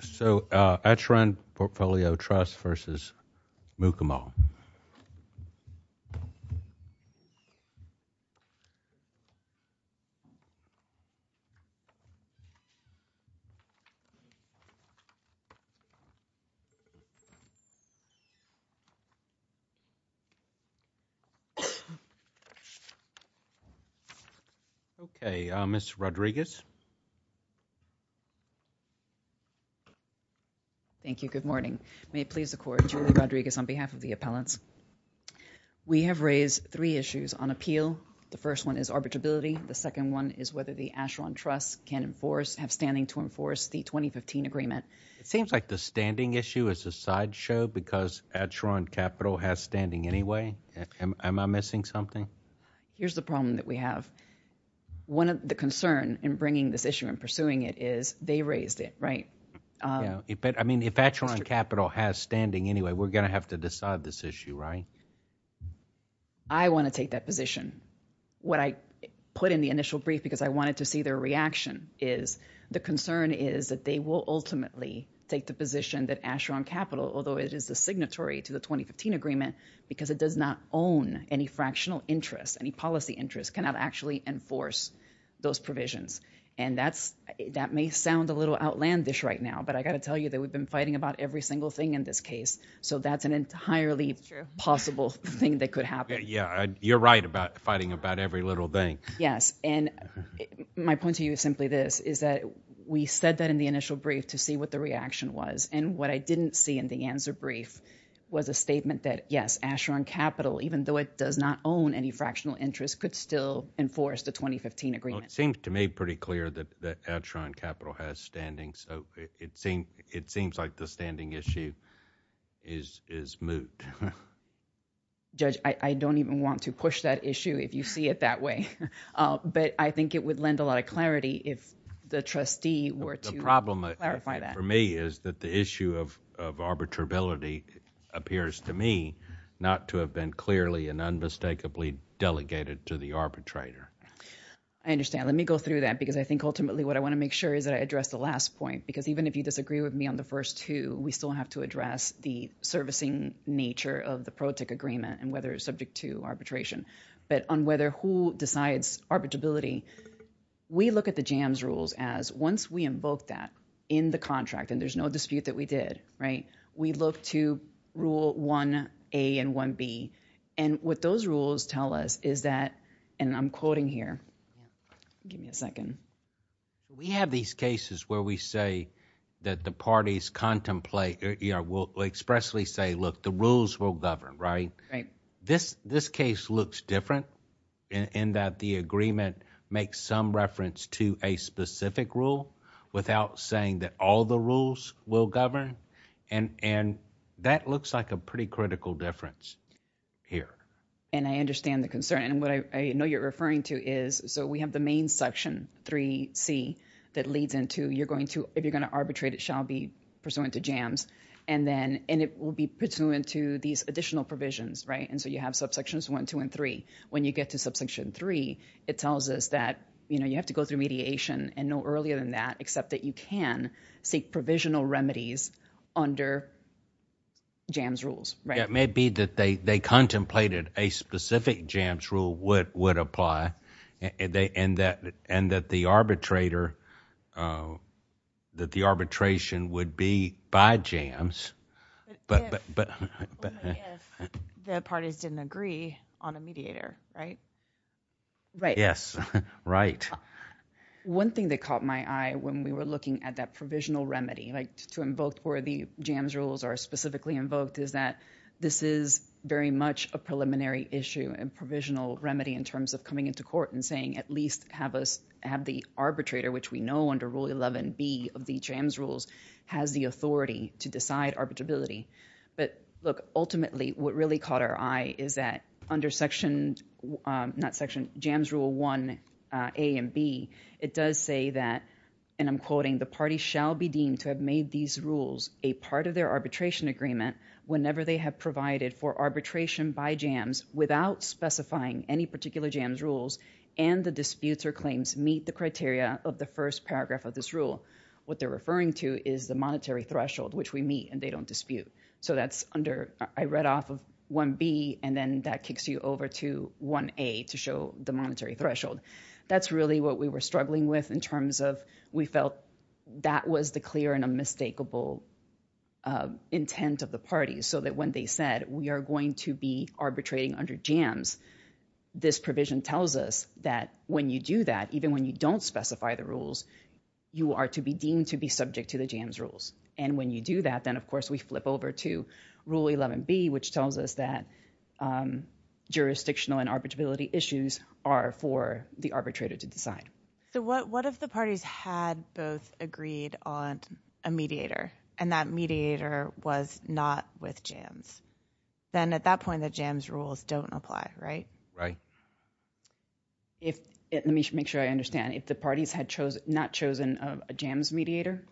So Acheron Portfolio Trust v. Mukamal Okay, Ms. Rodriguez Thank you. Good morning. May it please the court, Julie Rodriguez on behalf of the appellants. We have raised three issues on appeal. The first one is arbitrability. The second one is whether the Acheron Trust can enforce, have standing to enforce the 2015 agreement. It seems like the standing issue is a sideshow because Acheron Capital has standing anyway. Am I missing something? Here's the problem that we have. One of the concerns in bringing this issue and pursuing it is they raised it, right? I mean, if Acheron Capital has standing anyway, we're going to have to decide this issue, right? I want to take that position. What I put in the initial brief because I wanted to see their reaction is the concern is that they will ultimately take the position that Acheron Capital, although it is the signatory to the 2015 agreement because it does not own any fractional interest, any policy interest, cannot actually enforce those provisions. And that may sound a little outlandish right now, but I got to tell you that we've been fighting about every single thing in this case. So that's an entirely possible thing that could happen. Yeah, you're right about fighting about every little thing. Yes, and my point to you is simply this, is that we said that in the initial brief to see what the reaction was. And what I didn't see in the answer brief was a statement that, yes, Acheron Capital, even though it does not own any fractional interest, could still enforce the 2015 agreement. Well, it seems to me pretty clear that Acheron Capital has standing, so it seems like the standing issue is moot. Judge, I don't even want to push that issue if you see it that way. But I think it would lend a lot of clarity if the trustee were to clarify that. The problem for me is that the issue of arbitrability appears to me not to have been clearly and unmistakably delegated to the arbitrator. I understand. Let me go through that because I think ultimately what I want to make sure is that I address the last point. Because even if you disagree with me on the first two, we still have to address the servicing nature of the PROTIC agreement and whether it's subject to arbitration. But on whether who decides arbitrability, we look at the JAMS rules as once we invoke that in the contract, and there's no dispute that we did, right, we look to rule 1A and 1B. And what those rules tell us is that, and I'm quoting here. Give me a second. We have these cases where we say that the parties contemplate or expressly say, look, the rules will govern, right? This case looks different in that the agreement makes some reference to a specific rule without saying that all the rules will govern. And that looks like a pretty critical difference here. And I understand the concern. And what I know you're referring to is, so we have the main section, 3C, that leads into you're going to, if you're going to arbitrate, it shall be pursuant to JAMS. And then, and it will be pursuant to these additional provisions, right? And so you have subsections 1, 2, and 3. When you get to subsection 3, it tells us that, you know, you have to go through mediation and no earlier than that, except that you can seek provisional remedies under JAMS rules, right? Yeah, it may be that they contemplated a specific JAMS rule would apply. And that the arbitrator, that the arbitration would be by JAMS. But only if the parties didn't agree on a mediator, right? Right. Yes, right. One thing that caught my eye when we were looking at that provisional remedy, like to invoke where the JAMS rules are specifically invoked, is that this is very much a preliminary issue and provisional remedy in terms of coming into court and saying at least have us, have the arbitrator, which we know under Rule 11B of the JAMS rules, has the authority to decide arbitrability. But look, ultimately what really caught our eye is that under section, not section, JAMS Rule 1A and B, it does say that, and I'm quoting, the party shall be deemed to have made these rules a part of their arbitration agreement whenever they have provided for arbitration by JAMS without specifying any particular JAMS rules and the disputes or claims meet the criteria of the first paragraph of this rule. What they're referring to is the monetary threshold, which we meet, and they don't dispute. So that's under, I read off of 1B, and then that kicks you over to 1A to show the monetary threshold. That's really what we were struggling with in terms of we felt that was the clear and unmistakable intent of the parties so that when they said we are going to be arbitrating under JAMS, this provision tells us that when you do that, even when you don't specify the rules, you are to be deemed to be subject to the JAMS rules. And when you do that, then of course we flip over to Rule 11B, which tells us that jurisdictional and arbitrability issues are for the arbitrator to decide. So what if the parties had both agreed on a mediator, and that mediator was not with JAMS? Then at that point, the JAMS rules don't apply, right? Right. Let me make sure I understand. If the parties had not chosen a JAMS mediator?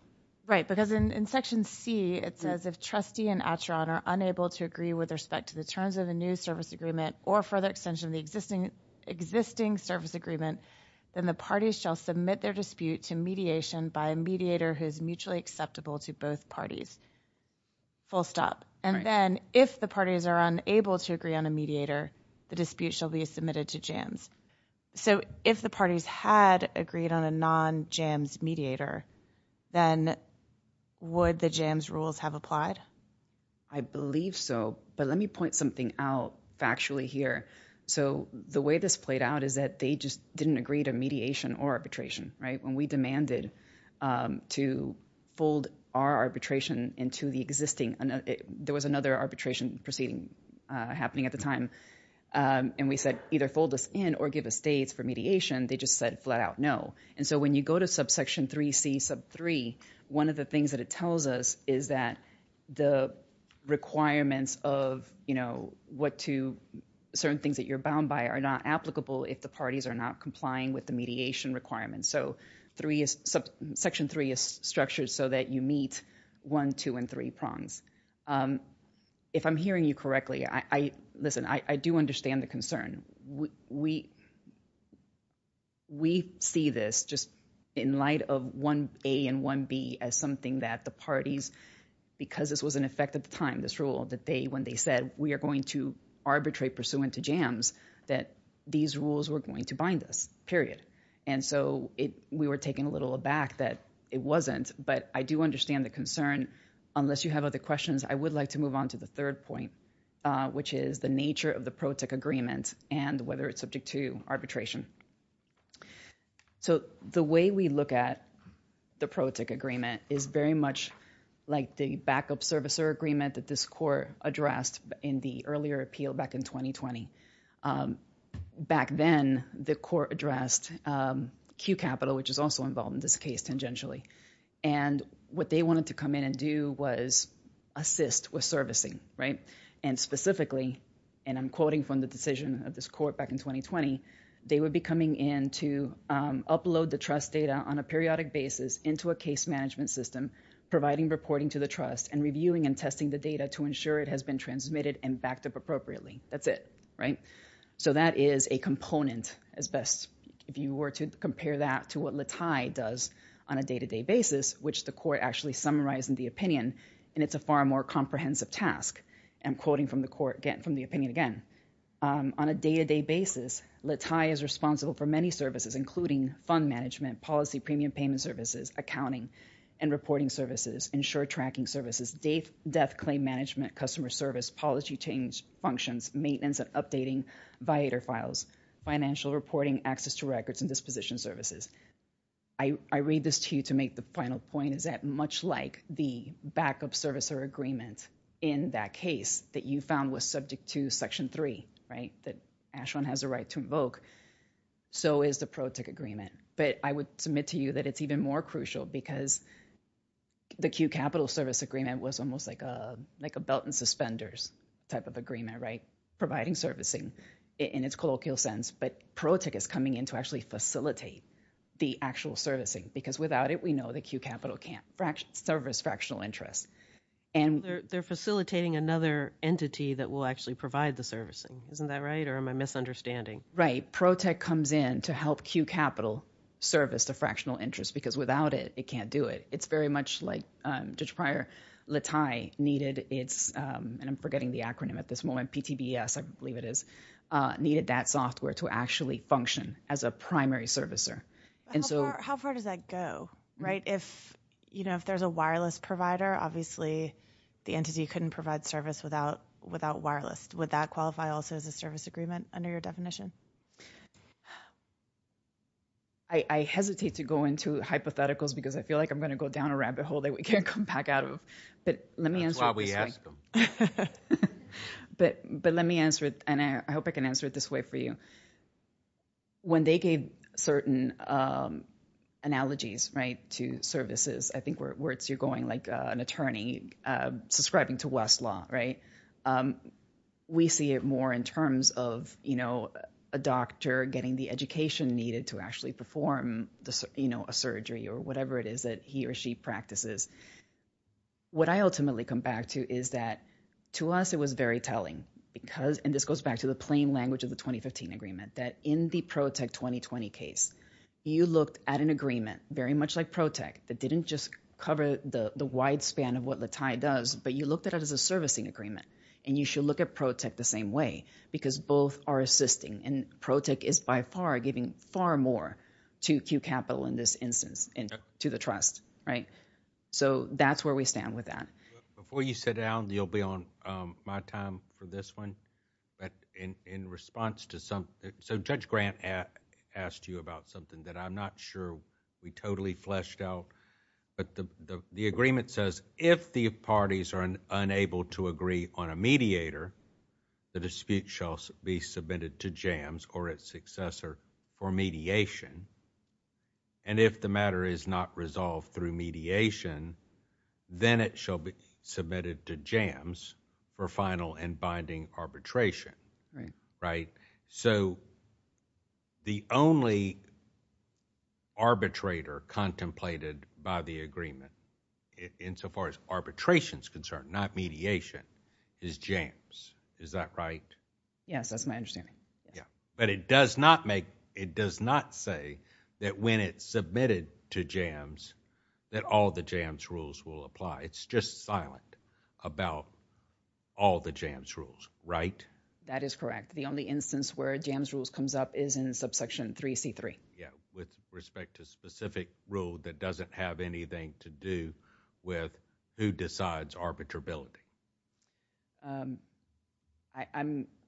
Right, because in Section C, it says if trustee and Atteron are unable to agree with respect to the terms of the new service agreement or further extension of the existing service agreement, then the parties shall submit their dispute to mediation by a mediator who is mutually acceptable to both parties. Full stop. And then if the parties are unable to agree on a mediator, the dispute shall be submitted to JAMS. So if the parties had agreed on a non-JAMS mediator, then would the JAMS rules have applied? I believe so. But let me point something out factually here. So the way this played out is that they just didn't agree to mediation or arbitration, right? When we demanded to fold our arbitration into the existing, there was another arbitration proceeding happening at the time, and we said either fold us in or give us dates for mediation, they just said flat out no. And so when you go to subsection 3C sub 3, one of the things that it tells us is that the requirements of, you know, what to certain things that you're bound by are not applicable if the parties are not complying with the mediation requirements. So section 3 is structured so that you meet 1, 2, and 3 prongs. If I'm hearing you correctly, listen, I do understand the concern. We see this just in light of 1A and 1B as something that the parties, because this was in effect at the time, this rule, that they, when they said we are going to arbitrate pursuant to JAMS, that these rules were going to bind us, period. And so we were taken a little aback that it wasn't, but I do understand the concern. Unless you have other questions, I would like to move on to the third point, which is the nature of the PROTIC agreement and whether it's subject to arbitration. So the way we look at the PROTIC agreement is very much like the backup servicer agreement that this court addressed in the earlier appeal back in 2020. Back then, the court addressed Q Capital, which is also involved in this case tangentially. And what they wanted to come in and do was assist with servicing, right? And specifically, and I'm quoting from the decision of this court back in 2020, they would be coming in to upload the trust data on a periodic basis into a case management system, providing reporting to the trust and reviewing and testing the data to ensure it has been transmitted and backed up appropriately. That's it, right? So that is a component as best, if you were to compare that to what Latai does on a day-to-day basis, which the court actually summarized in the opinion, and it's a far more comprehensive task. I'm quoting from the opinion again. On a day-to-day basis, Latai is responsible for many services, including fund management, policy premium payment services, accounting and reporting services, insure tracking services, death claim management, customer service, policy change functions, maintenance and updating, financial reporting, access to records and disposition services. I read this to you to make the final point, is that much like the backup servicer agreement in that case that you found was subject to Section 3, right, that Ashwin has a right to invoke, so is the pro-tick agreement. But I would submit to you that it's even more crucial because the Q capital service agreement was almost like a belt and suspenders type of agreement, right, providing servicing in its colloquial sense. But pro-tick is coming in to actually facilitate the actual servicing because without it, we know that Q capital can't service fractional interest. They're facilitating another entity that will actually provide the servicing. Isn't that right, or am I misunderstanding? Right, pro-tick comes in to help Q capital service the fractional interest because without it, it can't do it. It's very much like Judge Pryor, Latai needed its, and I'm forgetting the acronym at this moment, PTBS, I believe it is, needed that software to actually function as a primary servicer. How far does that go, right? If, you know, if there's a wireless provider, obviously the entity couldn't provide service without wireless. Would that qualify also as a service agreement under your definition? I hesitate to go into hypotheticals because I feel like I'm going to go down a rabbit hole that we can't come back out of, but let me answer it this way. That's why we ask them. But let me answer it, and I hope I can answer it this way for you. When they gave certain analogies, right, to services, I think you're going like an attorney subscribing to Westlaw, right? We see it more in terms of, you know, a doctor getting the education needed to actually perform, you know, a surgery or whatever it is that he or she practices. What I ultimately come back to is that to us it was very telling because, and this goes back to the plain language of the 2015 agreement, that in the Protech 2020 case, you looked at an agreement very much like Protech that didn't just cover the wide span of what Latai does, but you looked at it as a servicing agreement. And you should look at Protech the same way because both are assisting, and Protech is by far giving far more to Q Capital in this instance and to the trust, right? So that's where we stand with that. Before you sit down, you'll be on my time for this one. But in response to some, so Judge Grant asked you about something that I'm not sure we totally fleshed out. But the agreement says if the parties are unable to agree on a mediator, the dispute shall be submitted to JAMS or its successor for mediation. And if the matter is not resolved through mediation, then it shall be submitted to JAMS for final and binding arbitration, right? So the only arbitrator contemplated by the agreement insofar as arbitration is concerned, not mediation, is JAMS. Is that right? Yes, that's my understanding. But it does not make, it does not say that when it's submitted to JAMS that all the JAMS rules will apply. It's just silent about all the JAMS rules, right? That is correct. The only instance where JAMS rules comes up is in subsection 3C3. Yeah, with respect to specific rule that doesn't have anything to do with who decides arbitrability.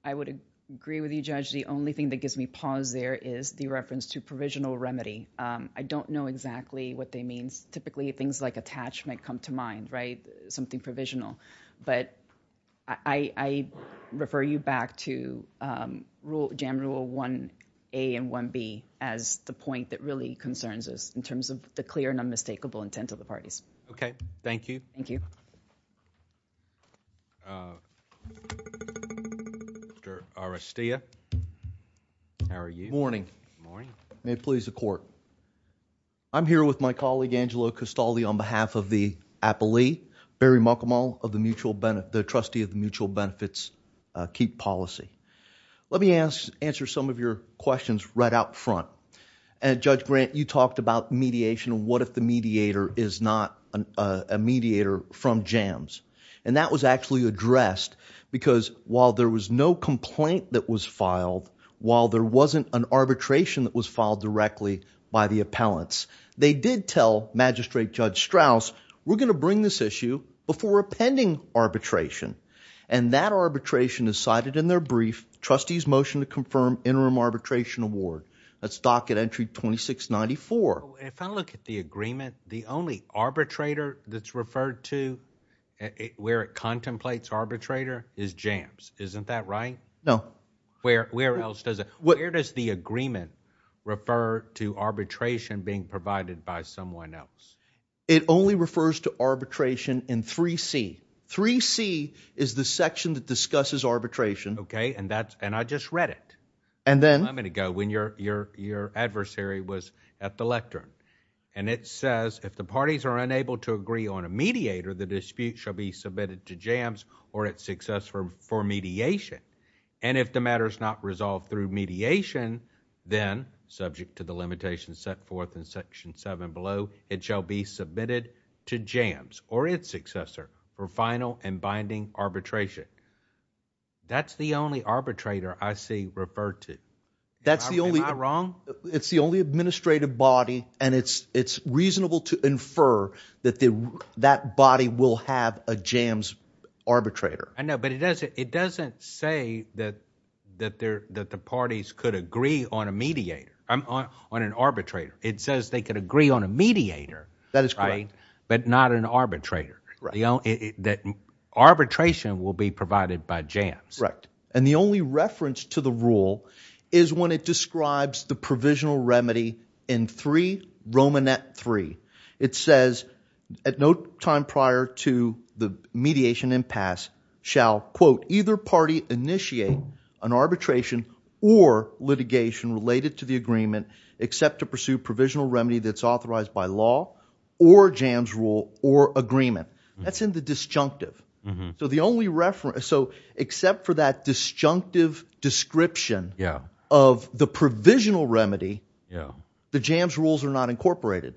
I would agree with you, Judge. The only thing that gives me pause there is the reference to provisional remedy. I don't know exactly what they mean. Typically things like attachment come to mind, right? Something provisional. But I refer you back to Jam Rule 1A and 1B as the point that really concerns us in terms of the clear and unmistakable intent of the parties. Okay. Thank you. Thank you. Mr. Arastia. Morning. May it please the court. I'm here with my colleague, Angelo Castaldi, on behalf of the appellee, Barry Muckelmall, the trustee of the Mutual Benefits Keep Policy. Let me answer some of your questions right out front. Judge Grant, you talked about mediation and what if the mediator is not a mediator from JAMS. And that was actually addressed because while there was no complaint that was filed, while there wasn't an arbitration that was filed directly by the appellants, they did tell Magistrate Judge Strauss, we're going to bring this issue before a pending arbitration. And that arbitration is cited in their brief, Trustee's Motion to Confirm Interim Arbitration Award. That's docket entry 2694. If I look at the agreement, the only arbitrator that's referred to where it contemplates arbitrator is JAMS. Isn't that right? No. Where does the agreement refer to arbitration being provided by someone else? It only refers to arbitration in 3C. 3C is the section that discusses arbitration. Okay, and I just read it a moment ago when your adversary was at the lectern. And it says, if the parties are unable to agree on a mediator, the dispute shall be submitted to JAMS or its successor for mediation. And if the matter is not resolved through mediation, then subject to the limitations set forth in Section 7 below, it shall be submitted to JAMS or its successor for final and binding arbitration. That's the only arbitrator I see referred to. Am I wrong? It's the only administrative body, and it's reasonable to infer that that body will have a JAMS arbitrator. I know, but it doesn't say that the parties could agree on a mediator, on an arbitrator. It says they could agree on a mediator. That is correct. But not an arbitrator. Arbitration will be provided by JAMS. Correct. And the only reference to the rule is when it describes the provisional remedy in 3 Romanet 3. It says, at no time prior to the mediation impasse, shall, quote, either party initiate an arbitration or litigation related to the agreement, except to pursue provisional remedy that's authorized by law or JAMS rule or agreement. That's in the disjunctive. So the only reference. So except for that disjunctive description of the provisional remedy, the JAMS rules are not incorporated.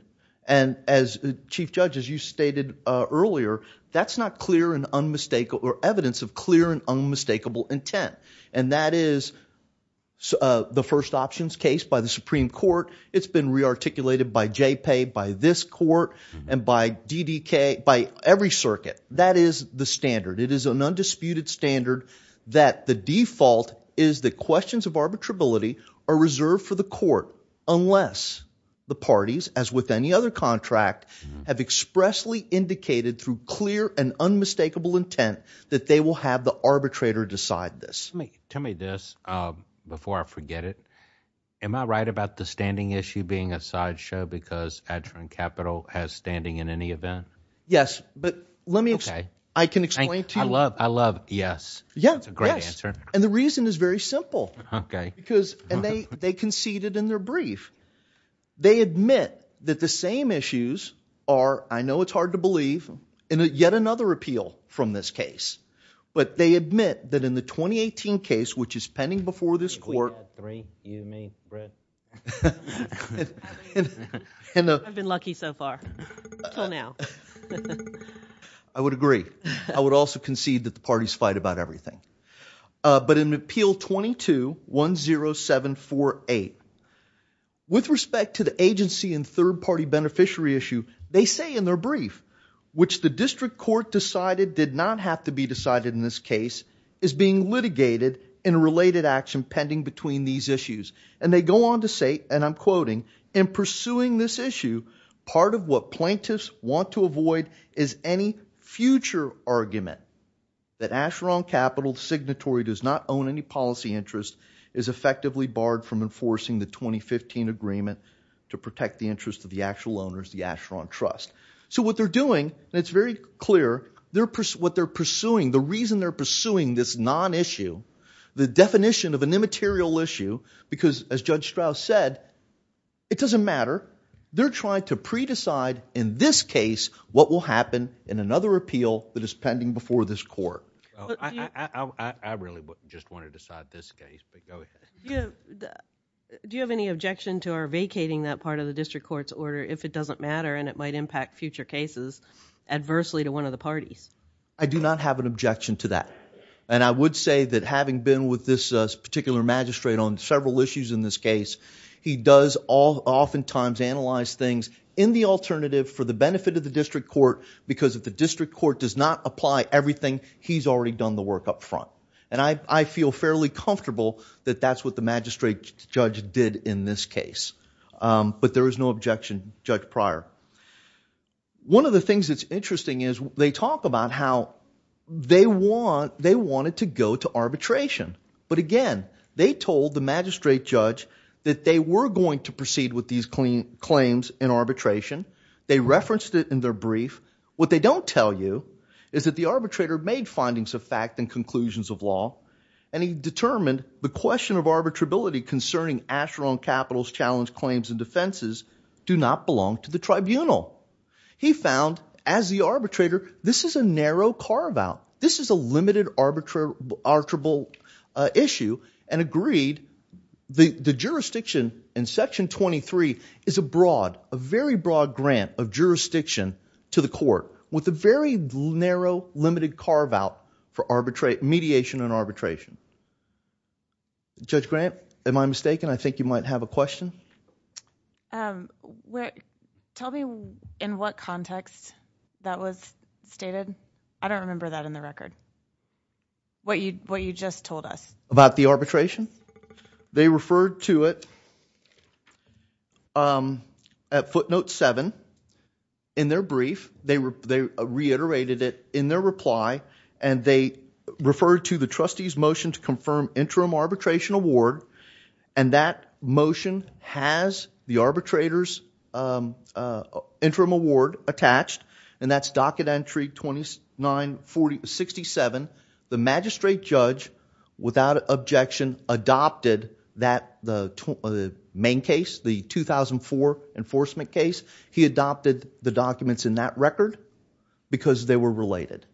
And as chief judges, you stated earlier, that's not clear and unmistakable or evidence of clear and unmistakable intent. And that is the first options case by the Supreme Court. It's been re articulated by JPEG, by this court and by DDK, by every circuit. That is the standard. It is an undisputed standard that the default is the questions of arbitrability are reserved for the court, unless the parties, as with any other contract, have expressly indicated through clear and unmistakable intent that they will have the arbitrator decide this. Tell me this before I forget it. Am I right about the standing issue being a sideshow because Adrian Capital has standing in any event? Yes. But let me explain. I can explain to you. I love yes. Yes. That's a great answer. And the reason is very simple. Okay. Because they conceded in their brief. They admit that the same issues are, I know it's hard to believe, in yet another appeal from this case. But they admit that in the 2018 case, which is pending before this court. Three, you, me, Brett. I've been lucky so far. Until now. I would agree. I would also concede that the parties fight about everything. But in Appeal 22-10748, with respect to the agency and third-party beneficiary issue, they say in their brief, which the district court decided did not have to be decided in this case, is being litigated in a related action pending between these issues. And they go on to say, and I'm quoting, in pursuing this issue, part of what plaintiffs want to avoid is any future argument that Asheron Capital, the signatory does not own any policy interest, is effectively barred from enforcing the 2015 agreement to protect the interest of the actual owners, the Asheron Trust. So what they're doing, and it's very clear, what they're pursuing, the reason they're pursuing this non-issue, the definition of an immaterial issue, because as Judge Strauss said, it doesn't matter. They're trying to pre-decide in this case what will happen in another appeal that is pending before this court. I really just want to decide this case, but go ahead. Do you have any objection to our vacating that part of the district court's order if it doesn't matter and it might impact future cases adversely to one of the parties? I do not have an objection to that. And I would say that having been with this particular magistrate on several issues in this case, he does oftentimes analyze things in the alternative for the benefit of the district court, because if the district court does not apply everything, he's already done the work up front. And I feel fairly comfortable that that's what the magistrate judge did in this case. But there is no objection, Judge Pryor. One of the things that's interesting is they talk about how they wanted to go to arbitration. But again, they told the magistrate judge that they were going to proceed with these claims in arbitration. They referenced it in their brief. What they don't tell you is that the arbitrator made findings of fact and conclusions of law, and he determined the question of arbitrability concerning Asheron Capital's challenge claims and defenses do not belong to the tribunal. He found, as the arbitrator, this is a narrow carve-out. This is a limited arbitrable issue and agreed the jurisdiction in Section 23 is a broad, a very broad grant of jurisdiction to the court with a very narrow, limited carve-out for mediation and arbitration. Judge Grant, am I mistaken? I think you might have a question. Tell me in what context that was stated. I don't remember that in the record, what you just told us. About the arbitration? They referred to it at footnote 7 in their brief. They reiterated it in their reply, and they referred to the trustee's motion to confirm interim arbitration award, and that motion has the arbitrator's interim award attached, and that's docket entry 2967. The magistrate judge, without objection, adopted the main case, the 2004 enforcement case. He adopted the documents in that record because they were related.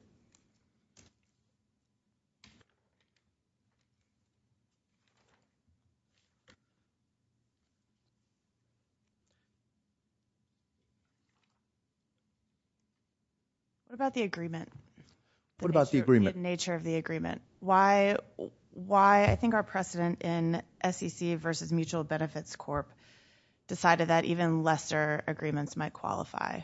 What about the agreement? What about the agreement? The nature of the agreement. Why I think our precedent in SEC versus Mutual Benefits Corp. decided that even lesser agreements might qualify.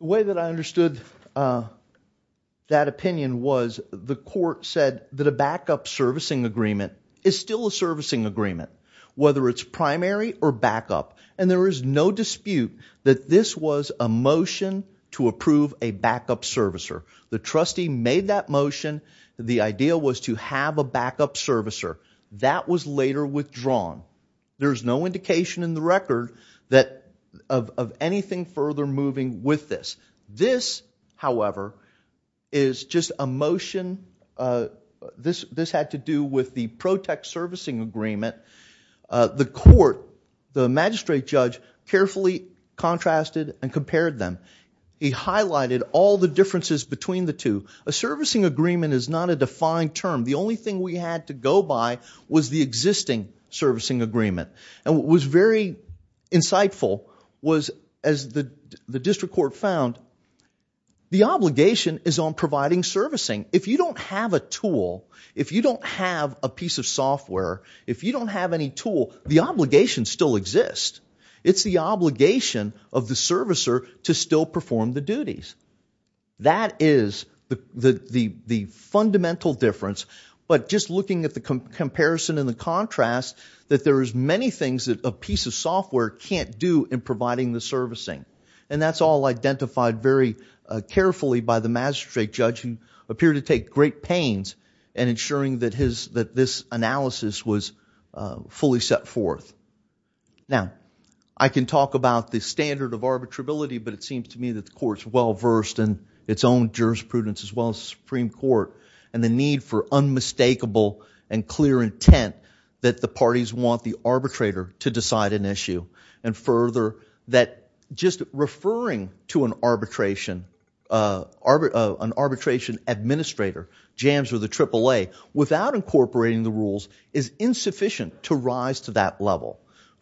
The way that I understood that opinion was the court said that a backup servicing agreement is still a servicing agreement, whether it's primary or backup, and there is no dispute that this was a motion to approve a backup servicer. The trustee made that motion. The idea was to have a backup servicer. That was later withdrawn. There's no indication in the record of anything further moving with this. This, however, is just a motion. This had to do with the pro-tech servicing agreement. The court, the magistrate judge, carefully contrasted and compared them. He highlighted all the differences between the two. A servicing agreement is not a defined term. The only thing we had to go by was the existing servicing agreement. And what was very insightful was, as the district court found, the obligation is on providing servicing. If you don't have a tool, if you don't have a piece of software, if you don't have any tool, the obligation still exists. It's the obligation of the servicer to still perform the duties. That is the fundamental difference. But just looking at the comparison and the contrast, that there is many things that a piece of software can't do in providing the servicing. And that's all identified very carefully by the magistrate judge, who appeared to take great pains in ensuring that this analysis was fully set forth. Now, I can talk about the standard of arbitrability, but it seems to me that the court's well-versed in its own jurisprudence as well as the Supreme Court and the need for unmistakable and clear intent that the parties want the arbitrator to decide an issue. And further, that just referring to an arbitration administrator, without incorporating the rules, is insufficient to rise to that level.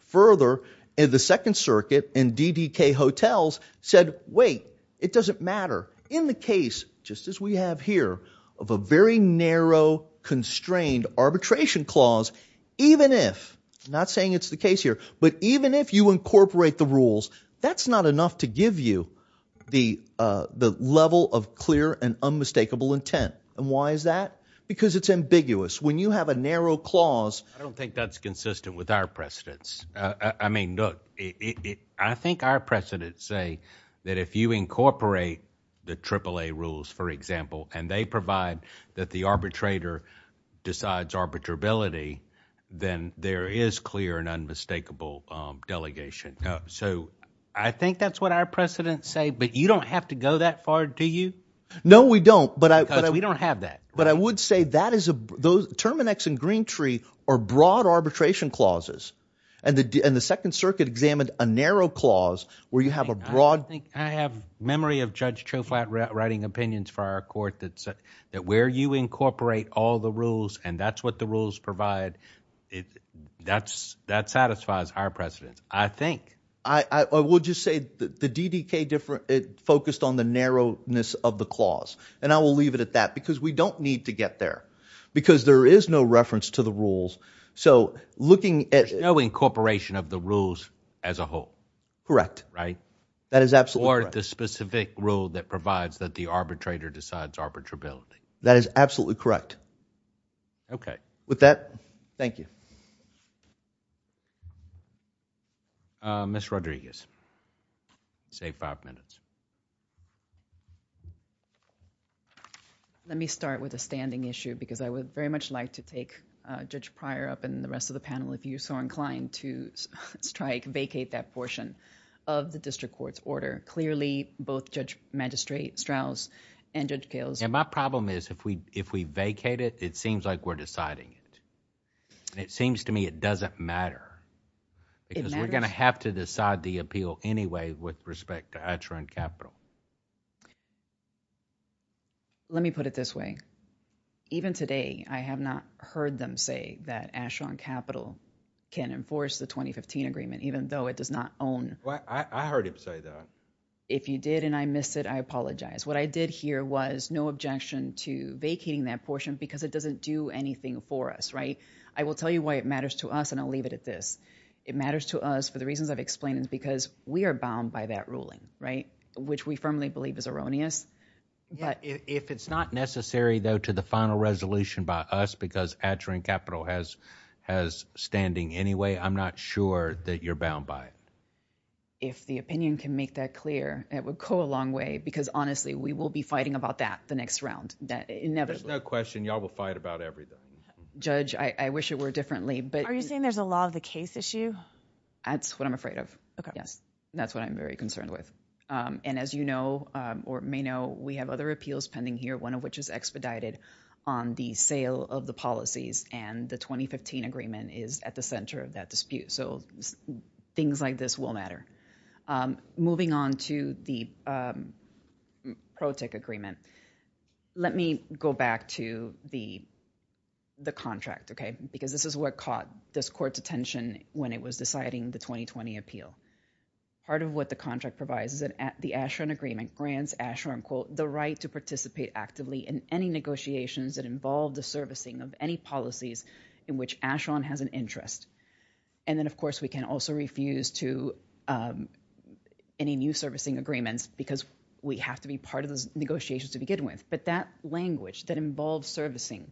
Further, the Second Circuit and DDK Hotels said, wait, it doesn't matter. In the case, just as we have here, of a very narrow, constrained arbitration clause, even if, not saying it's the case here, but even if you incorporate the rules, that's not enough to give you the level of clear and unmistakable intent. And why is that? Because it's ambiguous. When you have a narrow clause... I don't think that's consistent with our precedents. I mean, look, I think our precedents say that if you incorporate the AAA rules, for example, and they provide that the arbitrator decides arbitrability, then there is clear and unmistakable delegation. So, I think that's what our precedents say, but you don't have to go that far, do you? No, we don't, but I... Because we don't have that. But I would say that is a... Terminix and Green Tree are broad arbitration clauses, and the Second Circuit examined a narrow clause where you have a broad... I have memory of Judge Choflat writing opinions for our court that where you incorporate all the rules and that's what the rules provide, that satisfies our precedents, I think. I would just say the DDK focused on the narrowness of the clause, and I will leave it at that because we don't need to get there because there is no reference to the rules. So, looking at... There's no incorporation of the rules as a whole. Correct. Right? That is absolutely correct. Or the specific rule that provides that the arbitrator decides arbitrability. That is absolutely correct. Okay. With that, thank you. Ms. Rodriguez. Save five minutes. Let me start with a standing issue because I would very much like to take Judge Pryor up and the rest of the panel if you're so inclined to strike, vacate that portion of the district court's order. Clearly, both Judge Magistrate Strauss and Judge Gales... My problem is if we vacate it, it seems like we're deciding it. It seems to me it doesn't matter because we're going to have to decide the appeal anyway with respect to Asheron Capital. Let me put it this way. Even today, I have not heard them say that Asheron Capital can enforce the 2015 agreement even though it does not own... I heard him say that. If you did and I missed it, I apologize. What I did hear was no objection to vacating that portion because it doesn't do anything for us. I will tell you why it matters to us and I'll leave it at this. It matters to us for the reasons I've explained because we are bound by that ruling, which we firmly believe is erroneous. If it's not necessary though to the final resolution by us because Asheron Capital has standing anyway, I'm not sure that you're bound by it. If the opinion can make that clear, it would go a long way because honestly, we will be fighting about that the next round. There's no question y'all will fight about everything. Judge, I wish it were differently. Are you saying there's a law of the case issue? That's what I'm afraid of. That's what I'm very concerned with. As you know or may know, we have other appeals pending here, one of which is expedited on the sale of the policies and the 2015 agreement is at the center of that dispute. Things like this will matter. Moving on to the PROTIC agreement, let me go back to the contract because this is what caught this court's attention when it was deciding the 2020 appeal. Part of what the contract provides is that the Asheron agreement grants Asheron, quote, the right to participate actively in any negotiations that involve the servicing of any policies in which Asheron has an interest. And then, of course, we can also refuse to any new servicing agreements because we have to be part of those negotiations to begin with. But that language that involves servicing,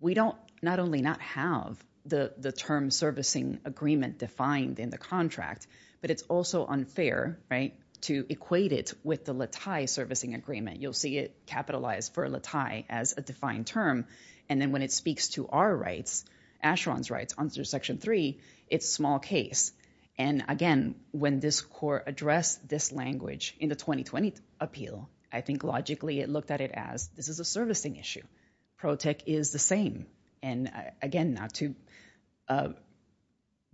we don't not only not have the term servicing agreement defined in the contract, but it's also unfair, right, to equate it with the Latai servicing agreement. You'll see it capitalized for Latai as a defined term. And then when it speaks to our rights, Asheron's rights under Section 3, it's a small case. And again, when this court addressed this language in the 2020 appeal, I think logically it looked at it as this is a servicing issue. PROTIC is the same. And again, not to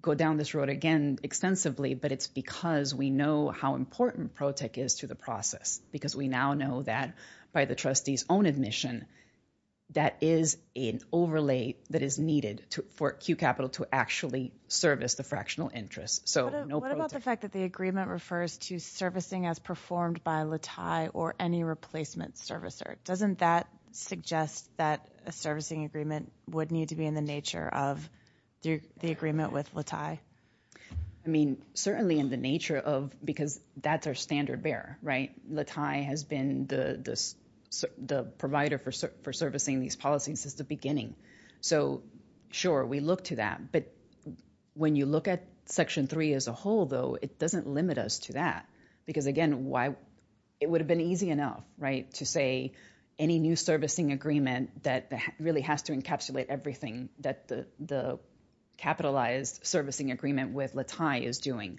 go down this road again extensively, but it's because we know how important PROTIC is to the process because we now know that by the trustee's own admission, that is an overlay that is needed for Q Capital to actually service the fractional interest. So no PROTIC. What about the fact that the agreement refers to servicing as performed by Latai or any replacement servicer? Doesn't that suggest that a servicing agreement would need to be in the nature of the agreement with Latai? I mean, certainly in the nature of, because that's our standard bearer, right? The provider for servicing these policies is the beginning. So sure, we look to that. But when you look at Section 3 as a whole, though, it doesn't limit us to that. Because again, it would have been easy enough, right, to say any new servicing agreement that really has to encapsulate everything that the capitalized servicing agreement with Latai is doing.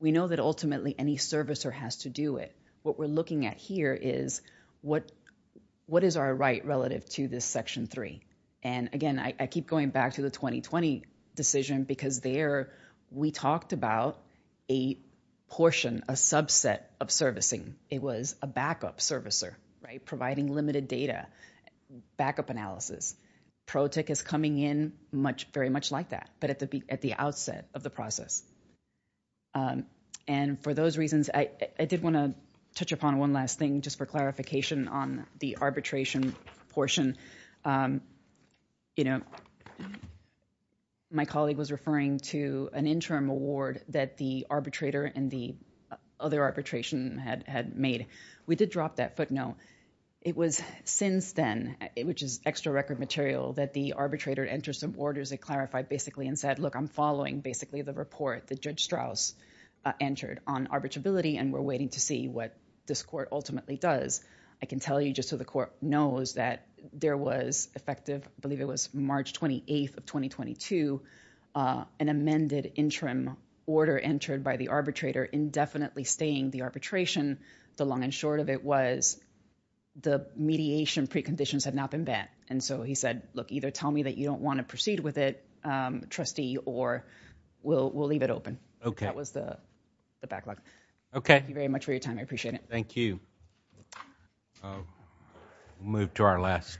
We know that ultimately any servicer has to do it. What we're looking at here is, what is our right relative to this Section 3? And again, I keep going back to the 2020 decision because there we talked about a portion, a subset of servicing. It was a backup servicer, right, providing limited data, backup analysis. PROTIC is coming in very much like that, but at the outset of the process. And for those reasons, I did want to touch upon one last thing just for clarification on the arbitration portion. My colleague was referring to an interim award that the arbitrator and the other arbitration had made. We did drop that footnote. It was since then, which is extra record material, that the arbitrator entered some orders. They clarified basically and said, look, I'm following basically the report that Judge Strauss entered on arbitrability and we're waiting to see what this court ultimately does. I can tell you just so the court knows that there was effective, I believe it was March 28th of 2022, an amended interim order entered by the arbitrator indefinitely staying the arbitration. The long and short of it was the mediation preconditions had not been met. And so he said, look, either tell me that you don't want to proceed with it, trustee, or we'll leave it open. That was the backlog. Thank you very much for your time. I appreciate it. Thank you. Move to our last case.